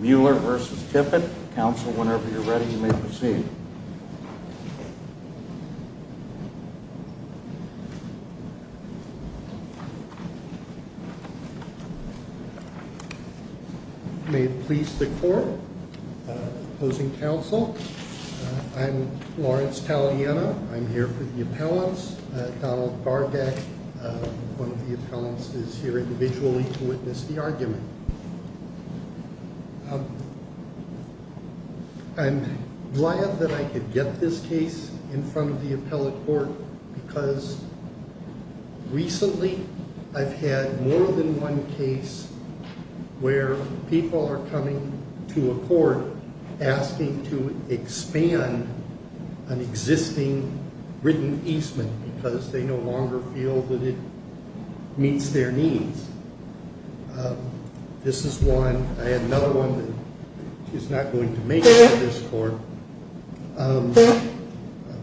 Mueller v. Tippett. Counsel, whenever you're ready, you may proceed. May it please the court, opposing counsel, I'm Lawrence Taladiena. I'm here for the appellants. Donald Bardak, one of the appellants, is here individually to witness the argument. I'm glad that I could get this case in front of the appellate court because recently I've had more than one case where people are coming to a court asking to expand an existing written easement because they no longer feel that it meets their needs. This is one. I have another one that is not going to make it to this court.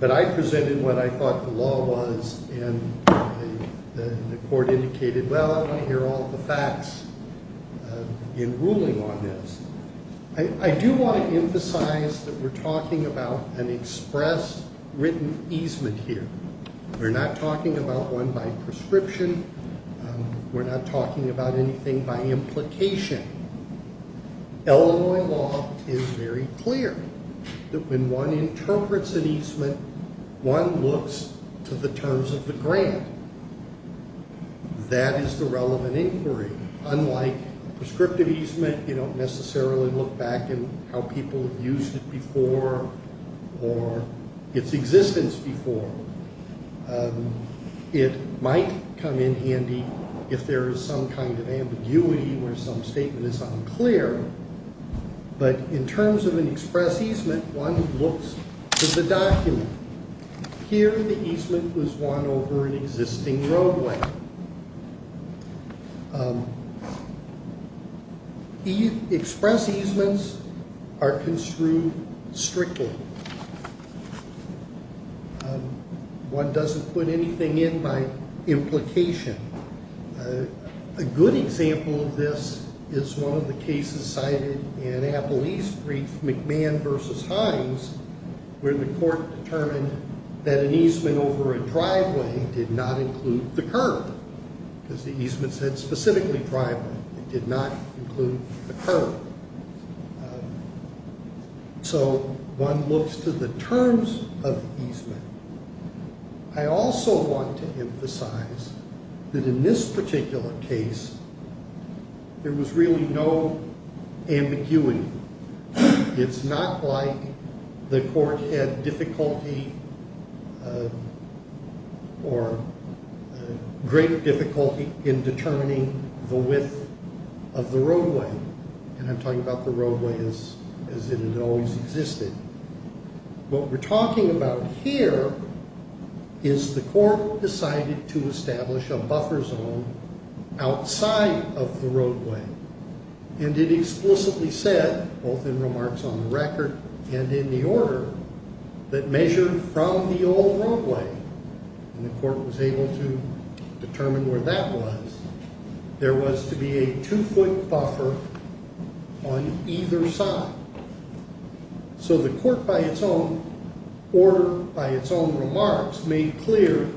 But I presented what I thought the law was and the court indicated, well, I want to hear all the facts in ruling on this. I do want to emphasize that we're talking about an express written easement here. We're not talking about one by prescription. We're not talking about anything by implication. Illinois law is very clear that when one interprets an easement, one looks to the terms of the grant. That is the relevant inquiry. Unlike prescriptive easement, you don't necessarily look back at how people have used it before or its existence before. It might come in handy if there is some kind of ambiguity where some statement is unclear. But in terms of an express easement, one looks to the document. Here the easement was won over an existing roadway. Express easements are construed strictly. One doesn't put anything in by implication. A good example of this is one of the cases cited in Apple East Street, McMahon v. Hines, where the court determined that an easement over a driveway did not include the curb. Because the easement said specifically driveway. It did not include the curb. So one looks to the terms of the easement. I also want to emphasize that in this particular case, there was really no ambiguity. It's not like the court had difficulty or greater difficulty in determining the width of the roadway. And I'm talking about the roadway as if it always existed. What we're talking about here is the court decided to establish a buffer zone outside of the roadway. And it explicitly said, both in remarks on the record and in the order, that measured from the old roadway. And the court was able to determine where that was. There was to be a two-foot buffer on either side. So the court, by its own order, by its own remarks, made clear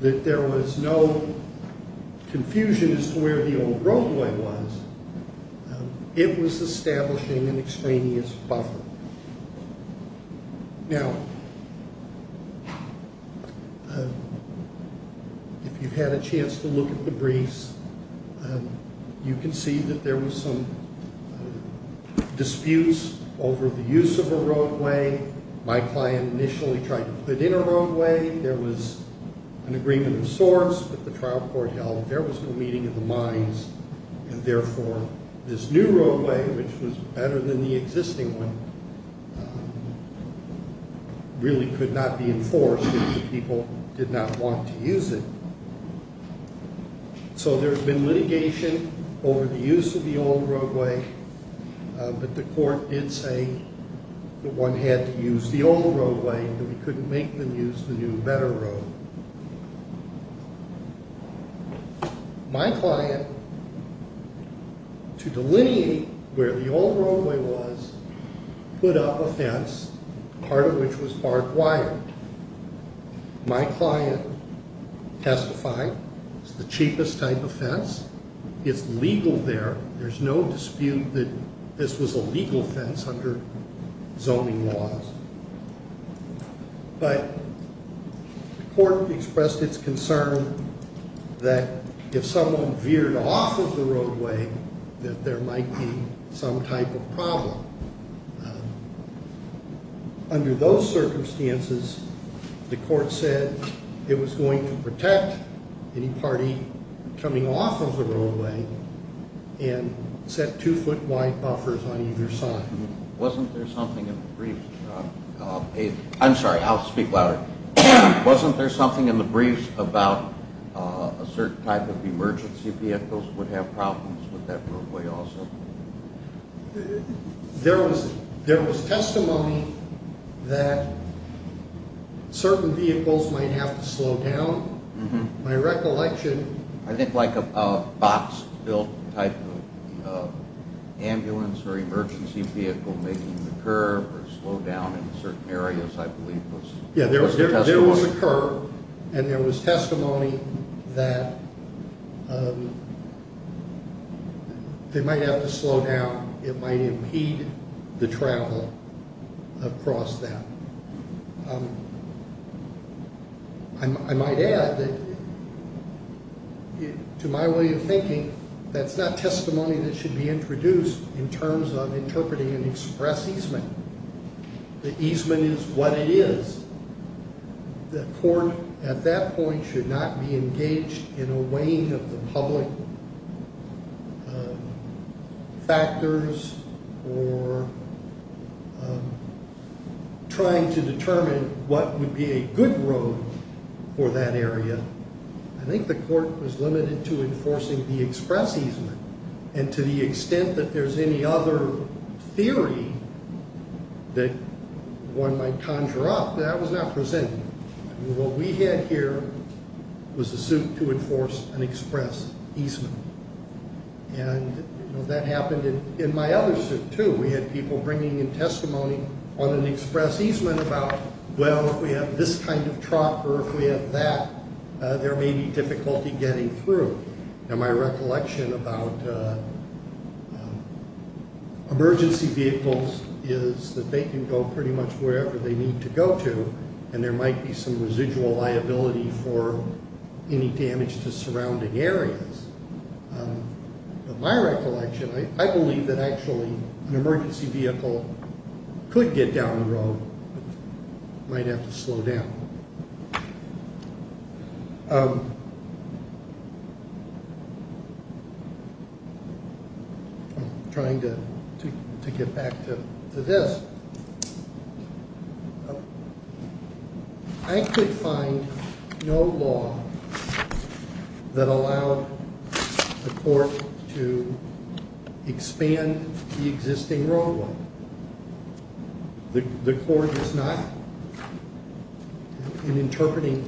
that there was no confusion as to where the old roadway was. It was establishing an extraneous buffer. Now, if you've had a chance to look at the briefs, you can see that there was some disputes over the use of a roadway. My client initially tried to put in a roadway. There was an agreement of sorts that the trial court held. There was no meeting of the minds, and therefore this new roadway, which was better than the existing one, really could not be enforced because the people did not want to use it. So there's been litigation over the use of the old roadway. But the court did say that one had to use the old roadway, that we couldn't make them use the new, better road. My client, to delineate where the old roadway was, put up a fence, part of which was barbed wire. My client testified it's the cheapest type of fence. It's legal there. There's no dispute that this was a legal fence under zoning laws. But the court expressed its concern that if someone veered off of the roadway, that there might be some type of problem. Under those circumstances, the court said it was going to protect any party coming off of the roadway and set two foot wide buffers on either side. Wasn't there something in the briefs about a certain type of emergency vehicles would have problems with that roadway also? There was testimony that certain vehicles might have to slow down. My recollection... I think like a box built type of ambulance or emergency vehicle making the curve or slow down in certain areas, I believe. There was a curve and there was testimony that they might have to slow down. It might impede the travel across that. I might add that to my way of thinking, that's not testimony that should be introduced in terms of interpreting an express easement. The easement is what it is. The court at that point should not be engaged in a weighing of the public factors or trying to determine what would be a good road for that area. I think the court was limited to enforcing the express easement. To the extent that there's any other theory that one might conjure up, that was not presented. What we had here was a suit to enforce an express easement. That happened in my other suit, too. We had people bringing in testimony on an express easement about, well, if we have this kind of truck or if we have that, there may be difficulty getting through. My recollection about emergency vehicles is that they can go pretty much wherever they need to go to. There might be some residual liability for any damage to surrounding areas. My recollection, I believe that actually an emergency vehicle could get down the road, but might have to slow down. I'm trying to get back to this. I could find no law that allowed the court to expand the existing roadway. The court is not interpreting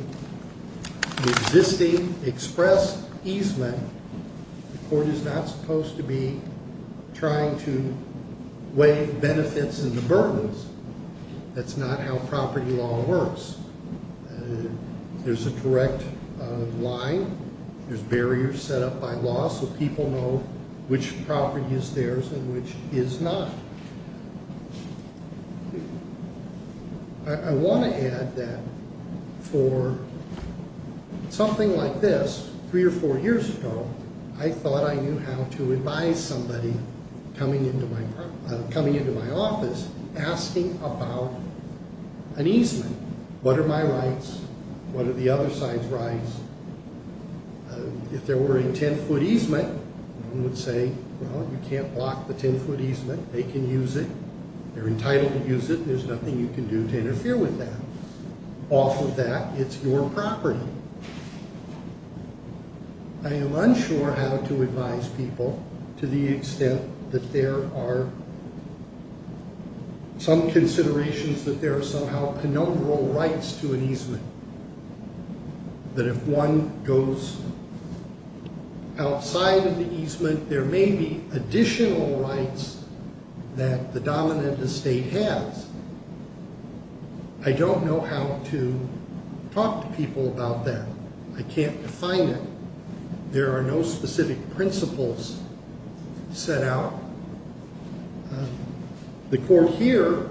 the existing express easement. The court is not supposed to be trying to weigh the benefits and the burdens. That's not how property law works. There's a direct line. There's barriers set up by law so people know which property is theirs and which is not. I want to add that for something like this, three or four years ago, I thought I knew how to advise somebody coming into my office asking about an easement. What are my rights? What are the other side's rights? If there were a 10-foot easement, one would say, well, you can't block the 10-foot easement. They can use it. They're entitled to use it. There's nothing you can do to interfere with that. Off of that, it's your property. I am unsure how to advise people to the extent that there are some considerations that there are somehow conumbral rights to an easement. That if one goes outside of the easement, there may be additional rights that the dominant estate has. I don't know how to talk to people about that. I can't define it. There are no specific principles set out. The court here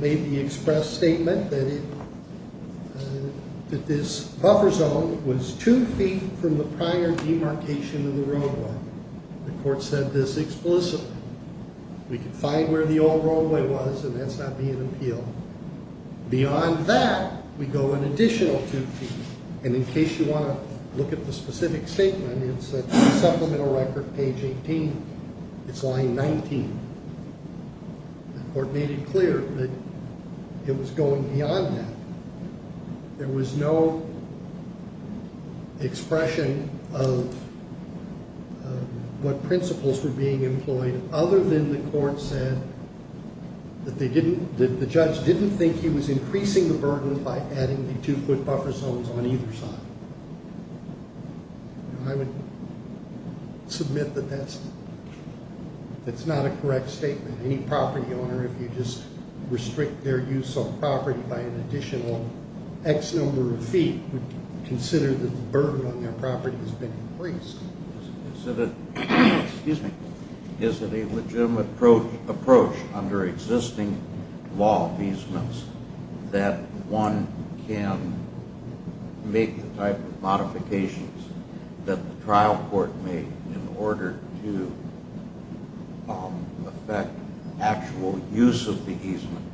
made the express statement that this buffer zone was two feet from the prior demarcation of the roadway. The court said this explicitly. We can find where the old roadway was, and that's not being appealed. Beyond that, we go an additional two feet. In case you want to look at the specific statement, it's a supplemental record, page 18. It's line 19. The court made it clear that it was going beyond that. There was no expression of what principles were being employed other than the court said that the judge didn't think he was increasing the burden by adding the two foot buffer zones on either side. I would submit that that's not a correct statement. Any property owner, if you just restrict their use of property by an additional X number of feet, would consider that the burden on their property has been increased. Is it a legitimate approach under existing law of easements that one can make the type of modifications that the trial court made in order to affect actual use of the easement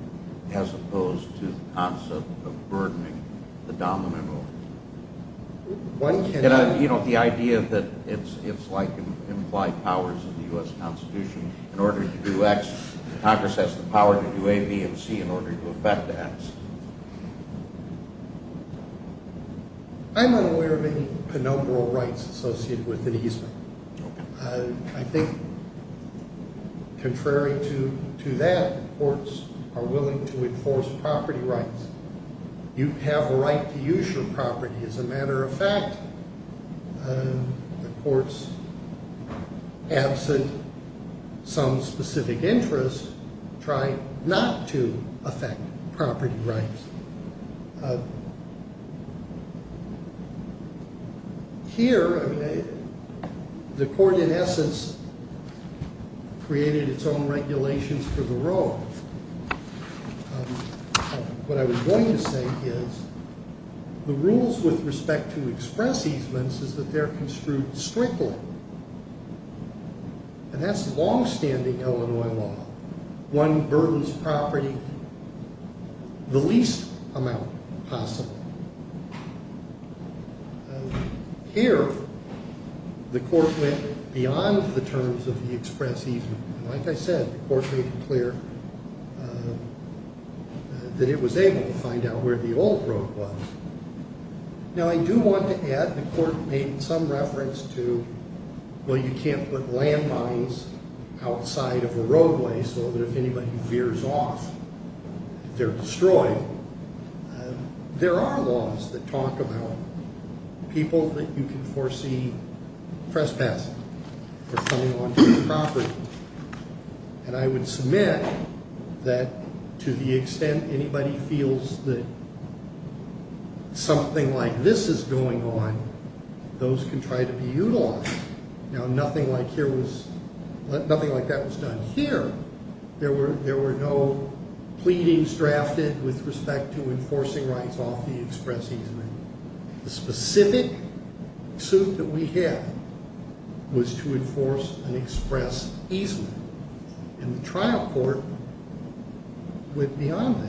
as opposed to the concept of burdening the dominant owner? You know, the idea that it's like implied powers of the U.S. Constitution. In order to do X, Congress has the power to do A, B, and C in order to affect X. I'm unaware of any penumbral rights associated with an easement. I think contrary to that, courts are willing to enforce property rights. You have a right to use your property. As a matter of fact, the courts, absent some specific interest, try not to affect property rights. Here, the court, in essence, created its own regulations for the road. What I was going to say is the rules with respect to express easements is that they're construed strictly. And that's longstanding Illinois law. One burdens property the least amount possible. Here, the court went beyond the terms of the express easement. Like I said, the court made it clear that it was able to find out where the old road was. Now, I do want to add, the court made some reference to, well, you can't put landmines outside of a roadway so that if anybody veers off, they're destroyed. There are laws that talk about people that you can foresee trespassing or coming onto your property. And I would submit that to the extent anybody feels that something like this is going on, those can try to be utilized. Now, nothing like that was done here. There were no pleadings drafted with respect to enforcing rights off the express easement. The specific suit that we had was to enforce an express easement. And the trial court went beyond that.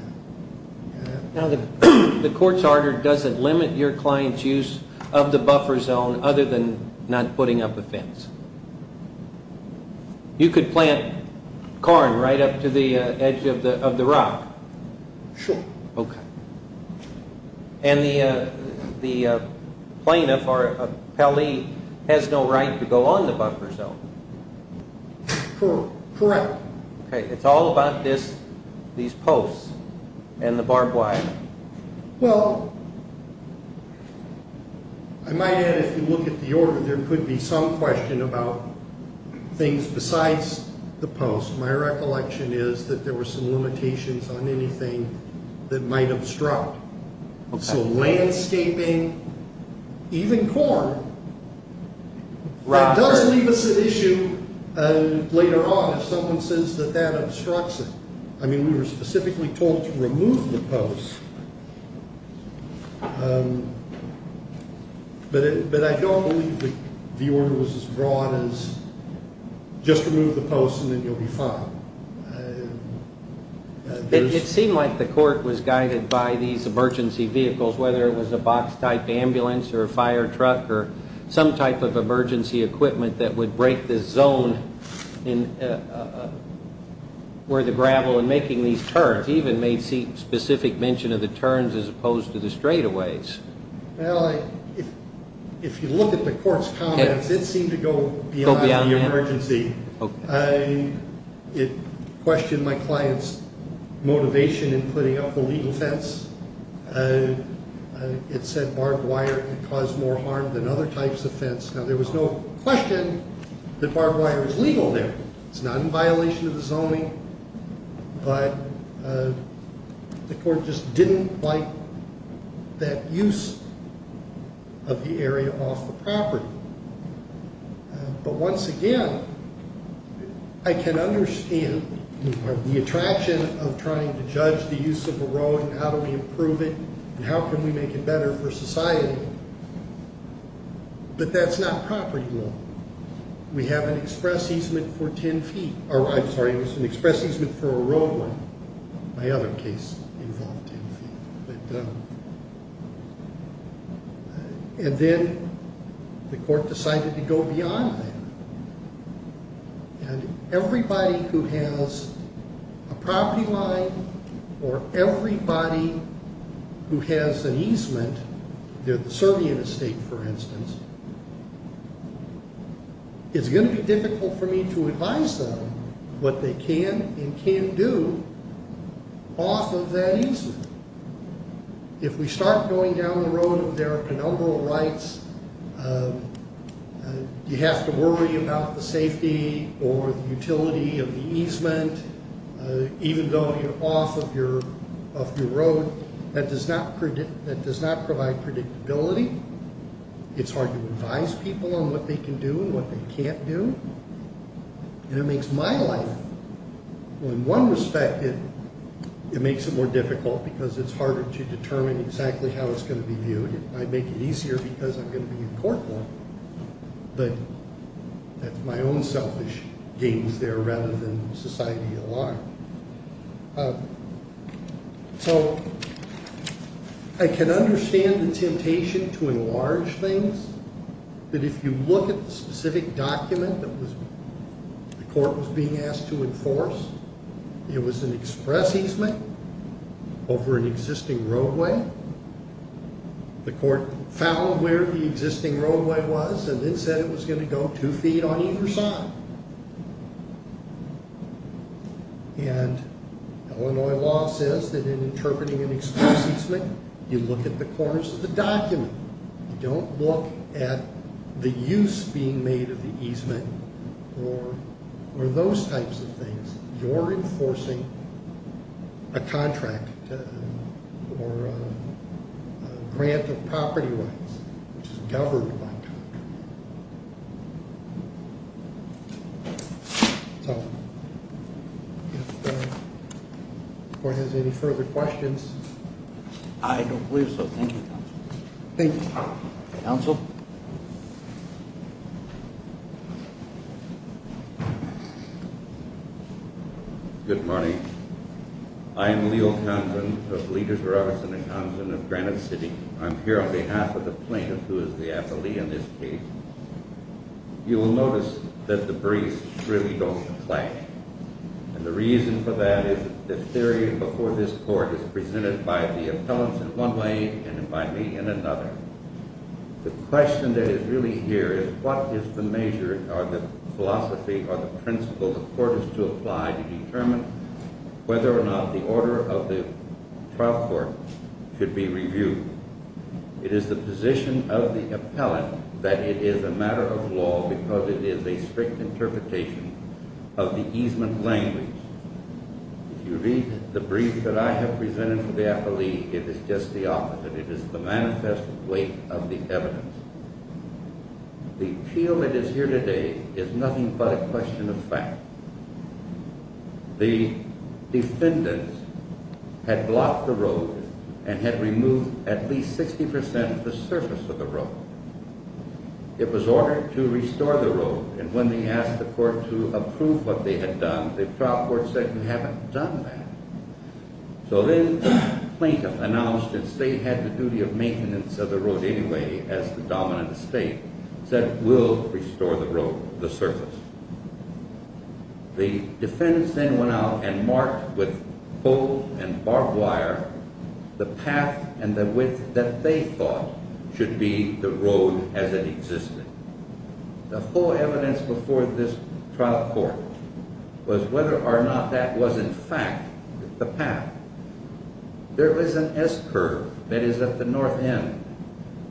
Now, the court's order doesn't limit your client's use of the buffer zone other than not putting up a fence. You could plant corn right up to the edge of the rock. Sure. Okay. And the plaintiff or appellee has no right to go on the buffer zone. Correct. Okay, it's all about these posts and the barbed wire. Well, I might add if you look at the order, there could be some question about things besides the post. My recollection is that there were some limitations on anything that might obstruct. So landscaping, even corn, does leave us at issue later on if someone says that that obstructs it. I mean, we were specifically told to remove the posts. But I don't believe the order was as broad as just remove the posts and then you'll be fine. It seemed like the court was guided by these emergency vehicles, whether it was a box-type ambulance or a fire truck or some type of emergency equipment that would break this zone where the gravel and making these turns, even made specific mention of the turns as opposed to the straightaways. Well, if you look at the court's comments, it seemed to go beyond the emergency. It questioned my client's motivation in putting up a legal fence. It said barbed wire caused more harm than other types of fence. Now, there was no question that barbed wire was legal there. It's not in violation of the zoning, but the court just didn't like that use of the area off the property. But once again, I can understand the attraction of trying to judge the use of a road and how do we improve it and how can we make it better for society, but that's not property law. We have an express easement for 10 feet. I'm sorry, it was an express easement for a roadway. My other case involved 10 feet. And then the court decided to go beyond that. And everybody who has a property line or everybody who has an easement, the Serbian estate, for instance, it's going to be difficult for me to advise them what they can and can't do off of that easement. If we start going down the road of their penumbral rights, you have to worry about the safety or the utility of the easement, even though you're off of your road. That does not provide predictability. It's hard to advise people on what they can do and what they can't do. And it makes my life, in one respect, it makes it more difficult because it's harder to determine exactly how it's going to be viewed. I make it easier because I'm going to be in court more. But that's my own selfish games there rather than society at large. So I can understand the temptation to enlarge things. But if you look at the specific document that the court was being asked to enforce, it was an express easement over an existing roadway. The court found where the existing roadway was and then said it was going to go two feet on either side. And Illinois law says that in interpreting an express easement, you look at the corners of the document. You don't look at the use being made of the easement or those types of things. You're enforcing a contract or a grant of property rights, which is governed by contract. So, if the court has any further questions. I don't believe so. Thank you, counsel. Thank you. Counsel. Good morning. I am Leo Thompson of Leaders, Robertson & Thompson of Granite City. I'm here on behalf of the plaintiff, who is the appellee in this case. You will notice that the briefs really don't apply. And the reason for that is the theory before this court is presented by the appellants in one way and by me in another. The question that is really here is what is the measure or the philosophy or the principle the court is to apply to determine whether or not the order of the trial court should be reviewed. It is the position of the appellant that it is a matter of law because it is a strict interpretation of the easement language. If you read the brief that I have presented for the appellee, it is just the opposite. It is the manifest weight of the evidence. The appeal that is here today is nothing but a question of fact. The defendant had blocked the road and had removed at least 60% of the surface of the road. It was ordered to restore the road, and when they asked the court to approve what they had done, the trial court said, we haven't done that. So then the plaintiff announced, since they had the duty of maintenance of the road anyway as the dominant estate, said, we'll restore the road, the surface. The defendants then went out and marked with coal and barbed wire the path and the width that they thought should be the road as it existed. The whole evidence before this trial court was whether or not that was in fact the path. There is an S curve that is at the north end.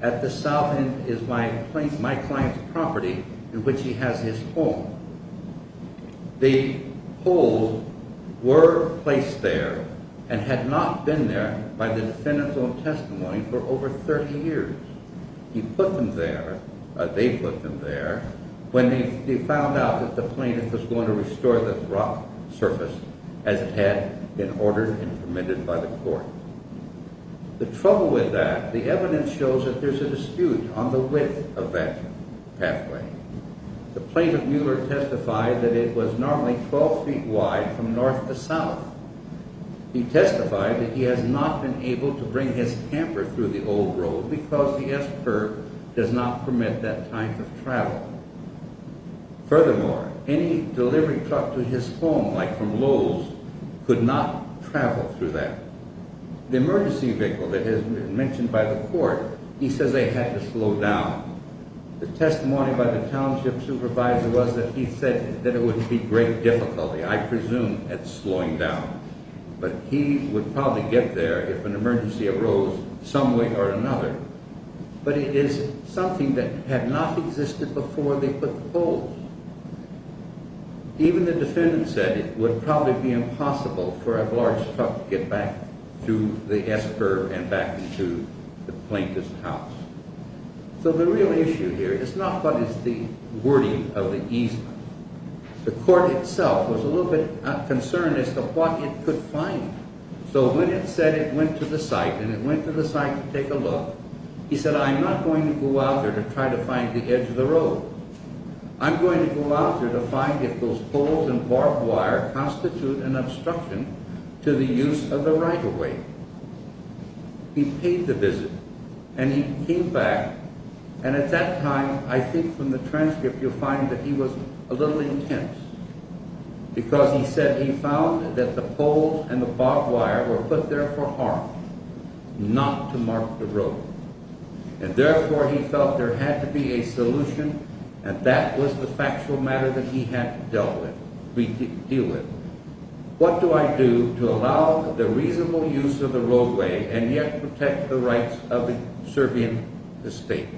At the south end is my client's property in which he has his home. The holes were placed there and had not been there by the defendant's own testimony for over 30 years. He put them there, they put them there, when they found out that the plaintiff was going to restore the rock surface as it had been ordered and permitted by the court. The trouble with that, the evidence shows that there's a dispute on the width of that pathway. The plaintiff Mueller testified that it was normally 12 feet wide from north to south. He testified that he has not been able to bring his camper through the old road because the S curve does not permit that kind of travel. Furthermore, any delivery truck to his home, like from Lowell's, could not travel through that. The emergency vehicle that has been mentioned by the court, he says they had to slow down. The testimony by the township supervisor was that he said that it would be great difficulty, I presume, at slowing down. But he would probably get there if an emergency arose some way or another. But it is something that had not existed before they put the holes. Even the defendant said it would probably be impossible for a large truck to get back through the S curve and back into the plaintiff's house. So the real issue here is not what is the wording of the easement. The court itself was a little bit concerned as to what it could find. So when it said it went to the site and it went to the site to take a look, he said, I'm not going to go out there to try to find the edge of the road. I'm going to go out there to find if those poles and barbed wire constitute an obstruction to the use of the right-of-way. He paid the visit, and he came back, and at that time, I think from the transcript you'll find that he was a little intense. Because he said he found that the poles and the barbed wire were put there for harm, not to mark the road. And therefore he felt there had to be a solution, and that was the factual matter that he had to deal with. What do I do to allow the reasonable use of the roadway and yet protect the rights of the Serbian state?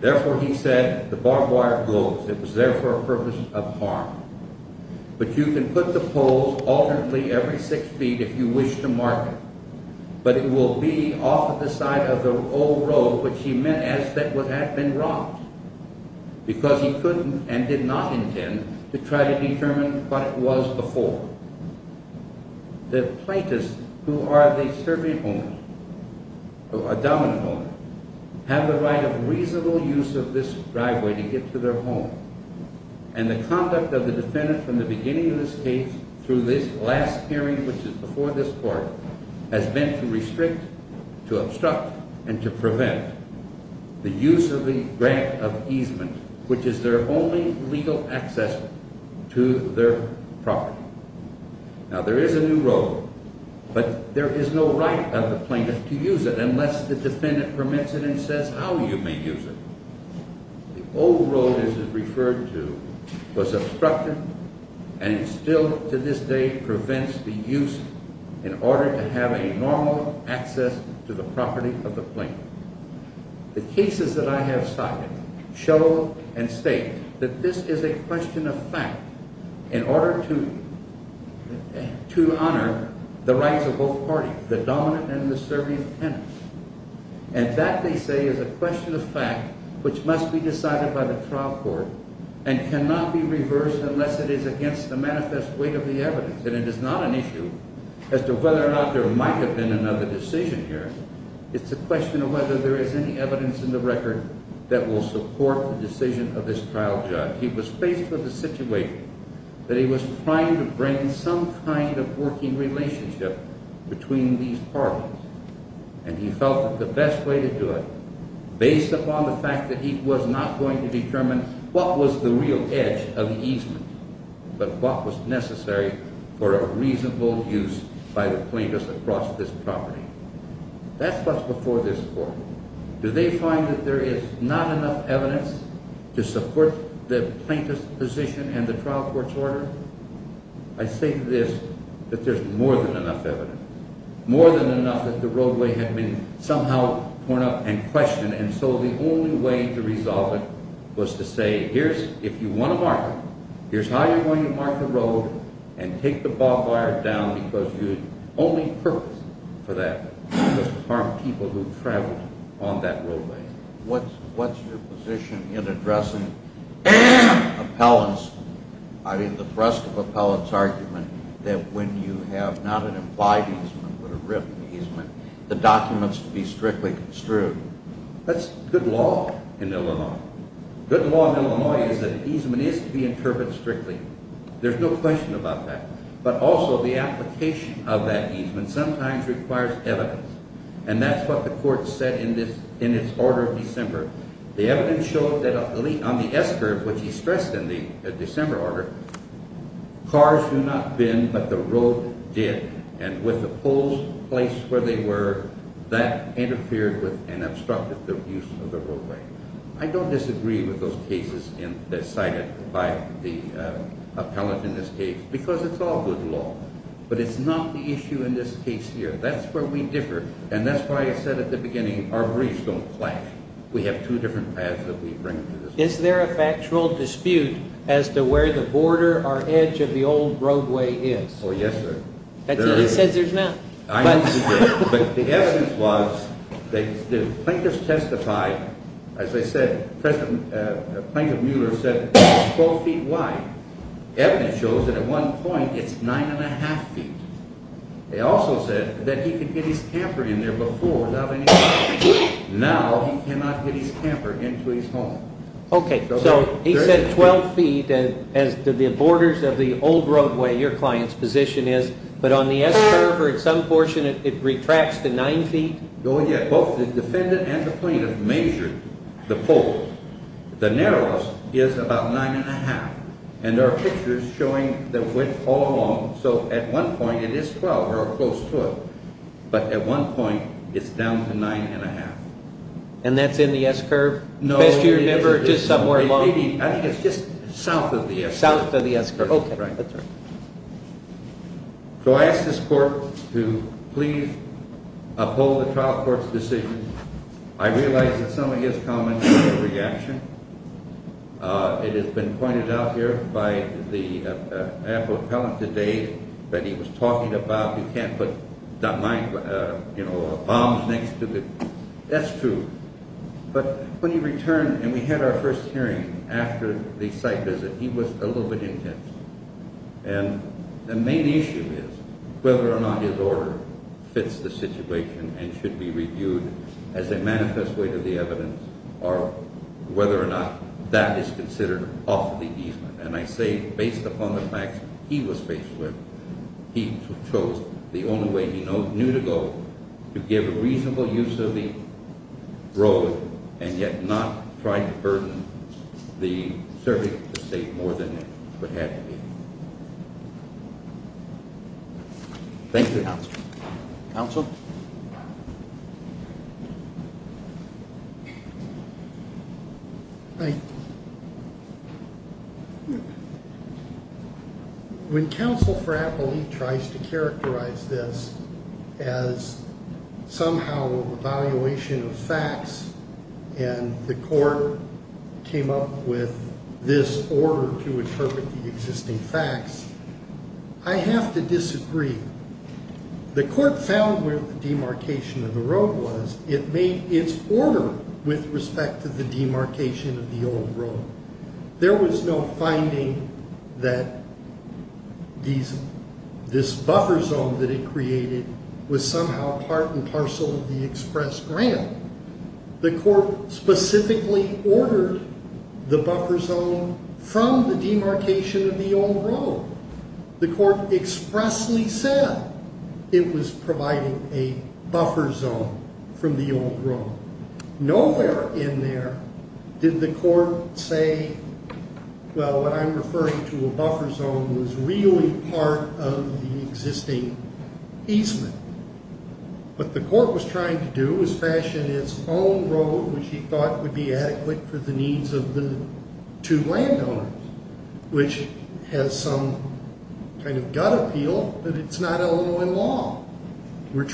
Therefore, he said, the barbed wire goes. It was there for a purpose of harm. But you can put the poles alternately every six feet if you wish to mark it. But it will be off of the side of the old road, which he meant as that would have been rocked, because he couldn't and did not intend to try to determine what it was before. The plaintiffs, who are the Serbian owners, a dominant owner, have the right of reasonable use of this driveway to get to their home. And the conduct of the defendant from the beginning of this case through this last hearing, which is before this court, has been to restrict, to obstruct, and to prevent the use of the grant of easement, which is their only legal access to their property. Now, there is a new road, but there is no right of the plaintiff to use it unless the defendant permits it and says how you may use it. The old road, as it's referred to, was obstructed and still to this day prevents the use in order to have a normal access to the property of the plaintiff. The cases that I have cited show and state that this is a question of fact in order to honor the rights of both parties, the dominant and the Serbian tenants. And that, they say, is a question of fact which must be decided by the trial court and cannot be reversed unless it is against the manifest weight of the evidence. And it is not an issue as to whether or not there might have been another decision here. It's a question of whether there is any evidence in the record that will support the decision of this trial judge. Now, he was faced with a situation that he was trying to bring some kind of working relationship between these parties. And he felt that the best way to do it, based upon the fact that he was not going to determine what was the real edge of the easement, but what was necessary for a reasonable use by the plaintiffs across this property. That's what's before this court. Do they find that there is not enough evidence to support the plaintiff's position and the trial court's order? I say to this that there's more than enough evidence, more than enough that the roadway had been somehow torn up and questioned. And so the only way to resolve it was to say, if you want to mark it, here's how you're going to mark the road and take the barbed wire down because you had only purpose for that, just to harm people who traveled on that roadway. What's your position in addressing the thrust of appellant's argument that when you have not an implied easement but a written easement, the documents should be strictly construed? That's good law in Illinois. Good law in Illinois is that easement is to be interpreted strictly. There's no question about that. But also the application of that easement sometimes requires evidence, and that's what the court said in its order of December. The evidence showed that on the S-curve, which he stressed in the December order, cars do not bend, but the road did, and with the poles placed where they were, that interfered with and obstructed the use of the roadway. I don't disagree with those cases cited by the appellant in this case because it's all good law, but it's not the issue in this case here. That's where we differ, and that's why I said at the beginning, our briefs don't clash. We have two different paths that we bring to this case. Is there a factual dispute as to where the border or edge of the old roadway is? Oh, yes, sir. He says there's not. But the evidence was that Plankett's testified, as I said, Plankett Mueller said it's 12 feet wide. Evidence shows that at one point it's 9 1⁄2 feet. They also said that he could get his camper in there before without any problem. Now he cannot get his camper into his home. Okay, so he said 12 feet as to the borders of the old roadway, your client's position is, but on the S-curve or at some portion it retracts to 9 feet? Oh, yeah. Both the defendant and the plaintiff measured the pole. The narrowest is about 9 1⁄2, and there are pictures showing the width all along. So at one point it is 12, or close to it, but at one point it's down to 9 1⁄2. And that's in the S-curve? No, I think it's just south of the S-curve. South of the S-curve. Okay, that's right. So I asked this court to please uphold the trial court's decision. I realize that some of his comments were a reaction. It has been pointed out here by the appellant today that he was talking about you can't put bombs next to the S-tube. But when he returned and we had our first hearing after the site visit, he was a little bit intense. And the main issue is whether or not his order fits the situation and should be reviewed as a manifest way to the evidence or whether or not that is considered off the easement. And I say based upon the facts he was faced with, he chose the only way he knew to go to give a reasonable use of the road and yet not try to burden the subject of the state more than it would have to be. Thank you. Counsel? When counsel Frappoli tries to characterize this as somehow an evaluation of facts and the court came up with this order to interpret the existing facts, I have to disagree. The court found where the demarcation of the road was. It made its order with respect to the demarcation of the old road. There was no finding that this buffer zone that it created was somehow part and parcel of the express ramp. The court specifically ordered the buffer zone from the demarcation of the old road. The court expressly said it was providing a buffer zone from the old road. Nowhere in there did the court say, well, what I'm referring to, a buffer zone, was really part of the existing easement. What the court was trying to do was fashion its own road, which he thought would be adequate for the needs of the two landowners, which has some kind of gut appeal that it's not Illinois law. The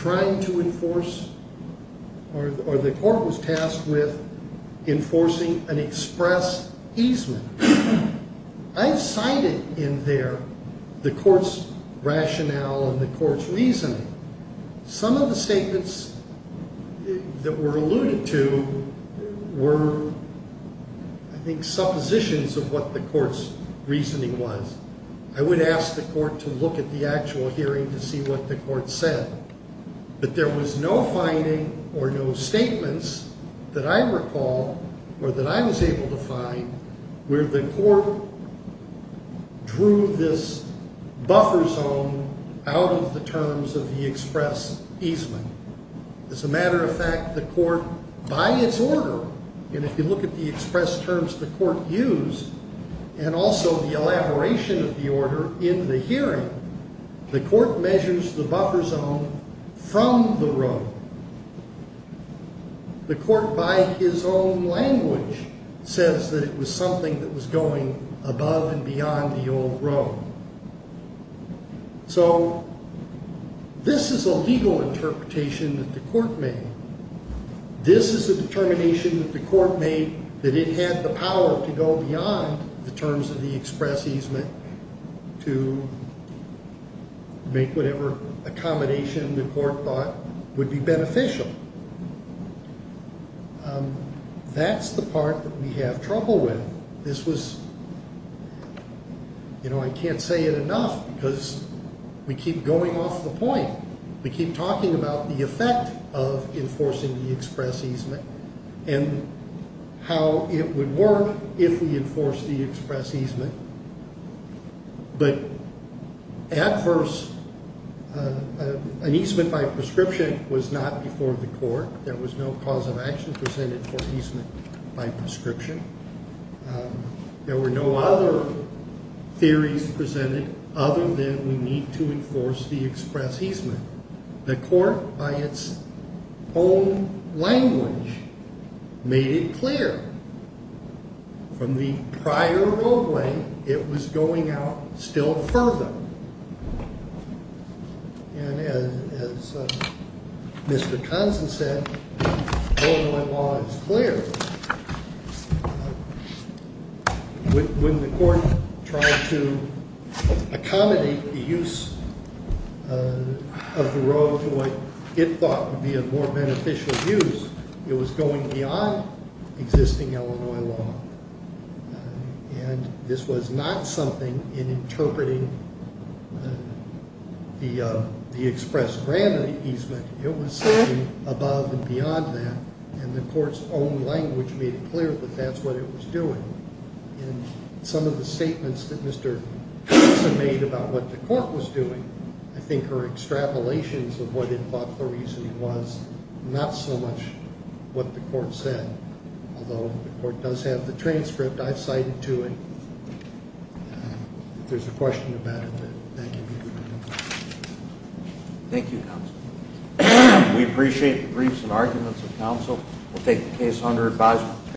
court was tasked with enforcing an express easement. I've cited in there the court's rationale and the court's reasoning. Some of the statements that were alluded to were, I think, suppositions of what the court's reasoning was. I would ask the court to look at the actual hearing to see what the court said. But there was no finding or no statements that I recall or that I was able to find where the court drew this buffer zone out of the terms of the express easement. As a matter of fact, the court, by its order, and if you look at the express terms the court used, and also the elaboration of the order in the hearing, the court measures the buffer zone from the road. The court, by his own language, says that it was something that was going above and beyond the old road. So this is a legal interpretation that the court made. This is a determination that the court made that it had the power to go beyond the terms of the express easement to make whatever accommodation the court thought would be beneficial. That's the part that we have trouble with. I can't say it enough because we keep going off the point. We keep talking about the effect of enforcing the express easement and how it would work if we enforced the express easement. But at first, an easement by prescription was not before the court. There was no cause of action presented for easement by prescription. There were no other theories presented other than we need to enforce the express easement. The court, by its own language, made it clear from the prior roadway it was going out still further. As Mr. Tonson said, Illinois law is clear. When the court tried to accommodate the use of the road to what it thought would be a more beneficial use, it was going beyond existing Illinois law. And this was not something in interpreting the express grant easement. It was something above and beyond that. And the court's own language made it clear that that's what it was doing. And some of the statements that Mr. Tonson made about what the court was doing, I think are extrapolations of what it thought the reason was, not so much what the court said. Although the court does have the transcript. I've cited to it. If there's a question about it, thank you. Thank you, counsel. We appreciate the briefs and arguments of counsel. We'll take the case under advisement.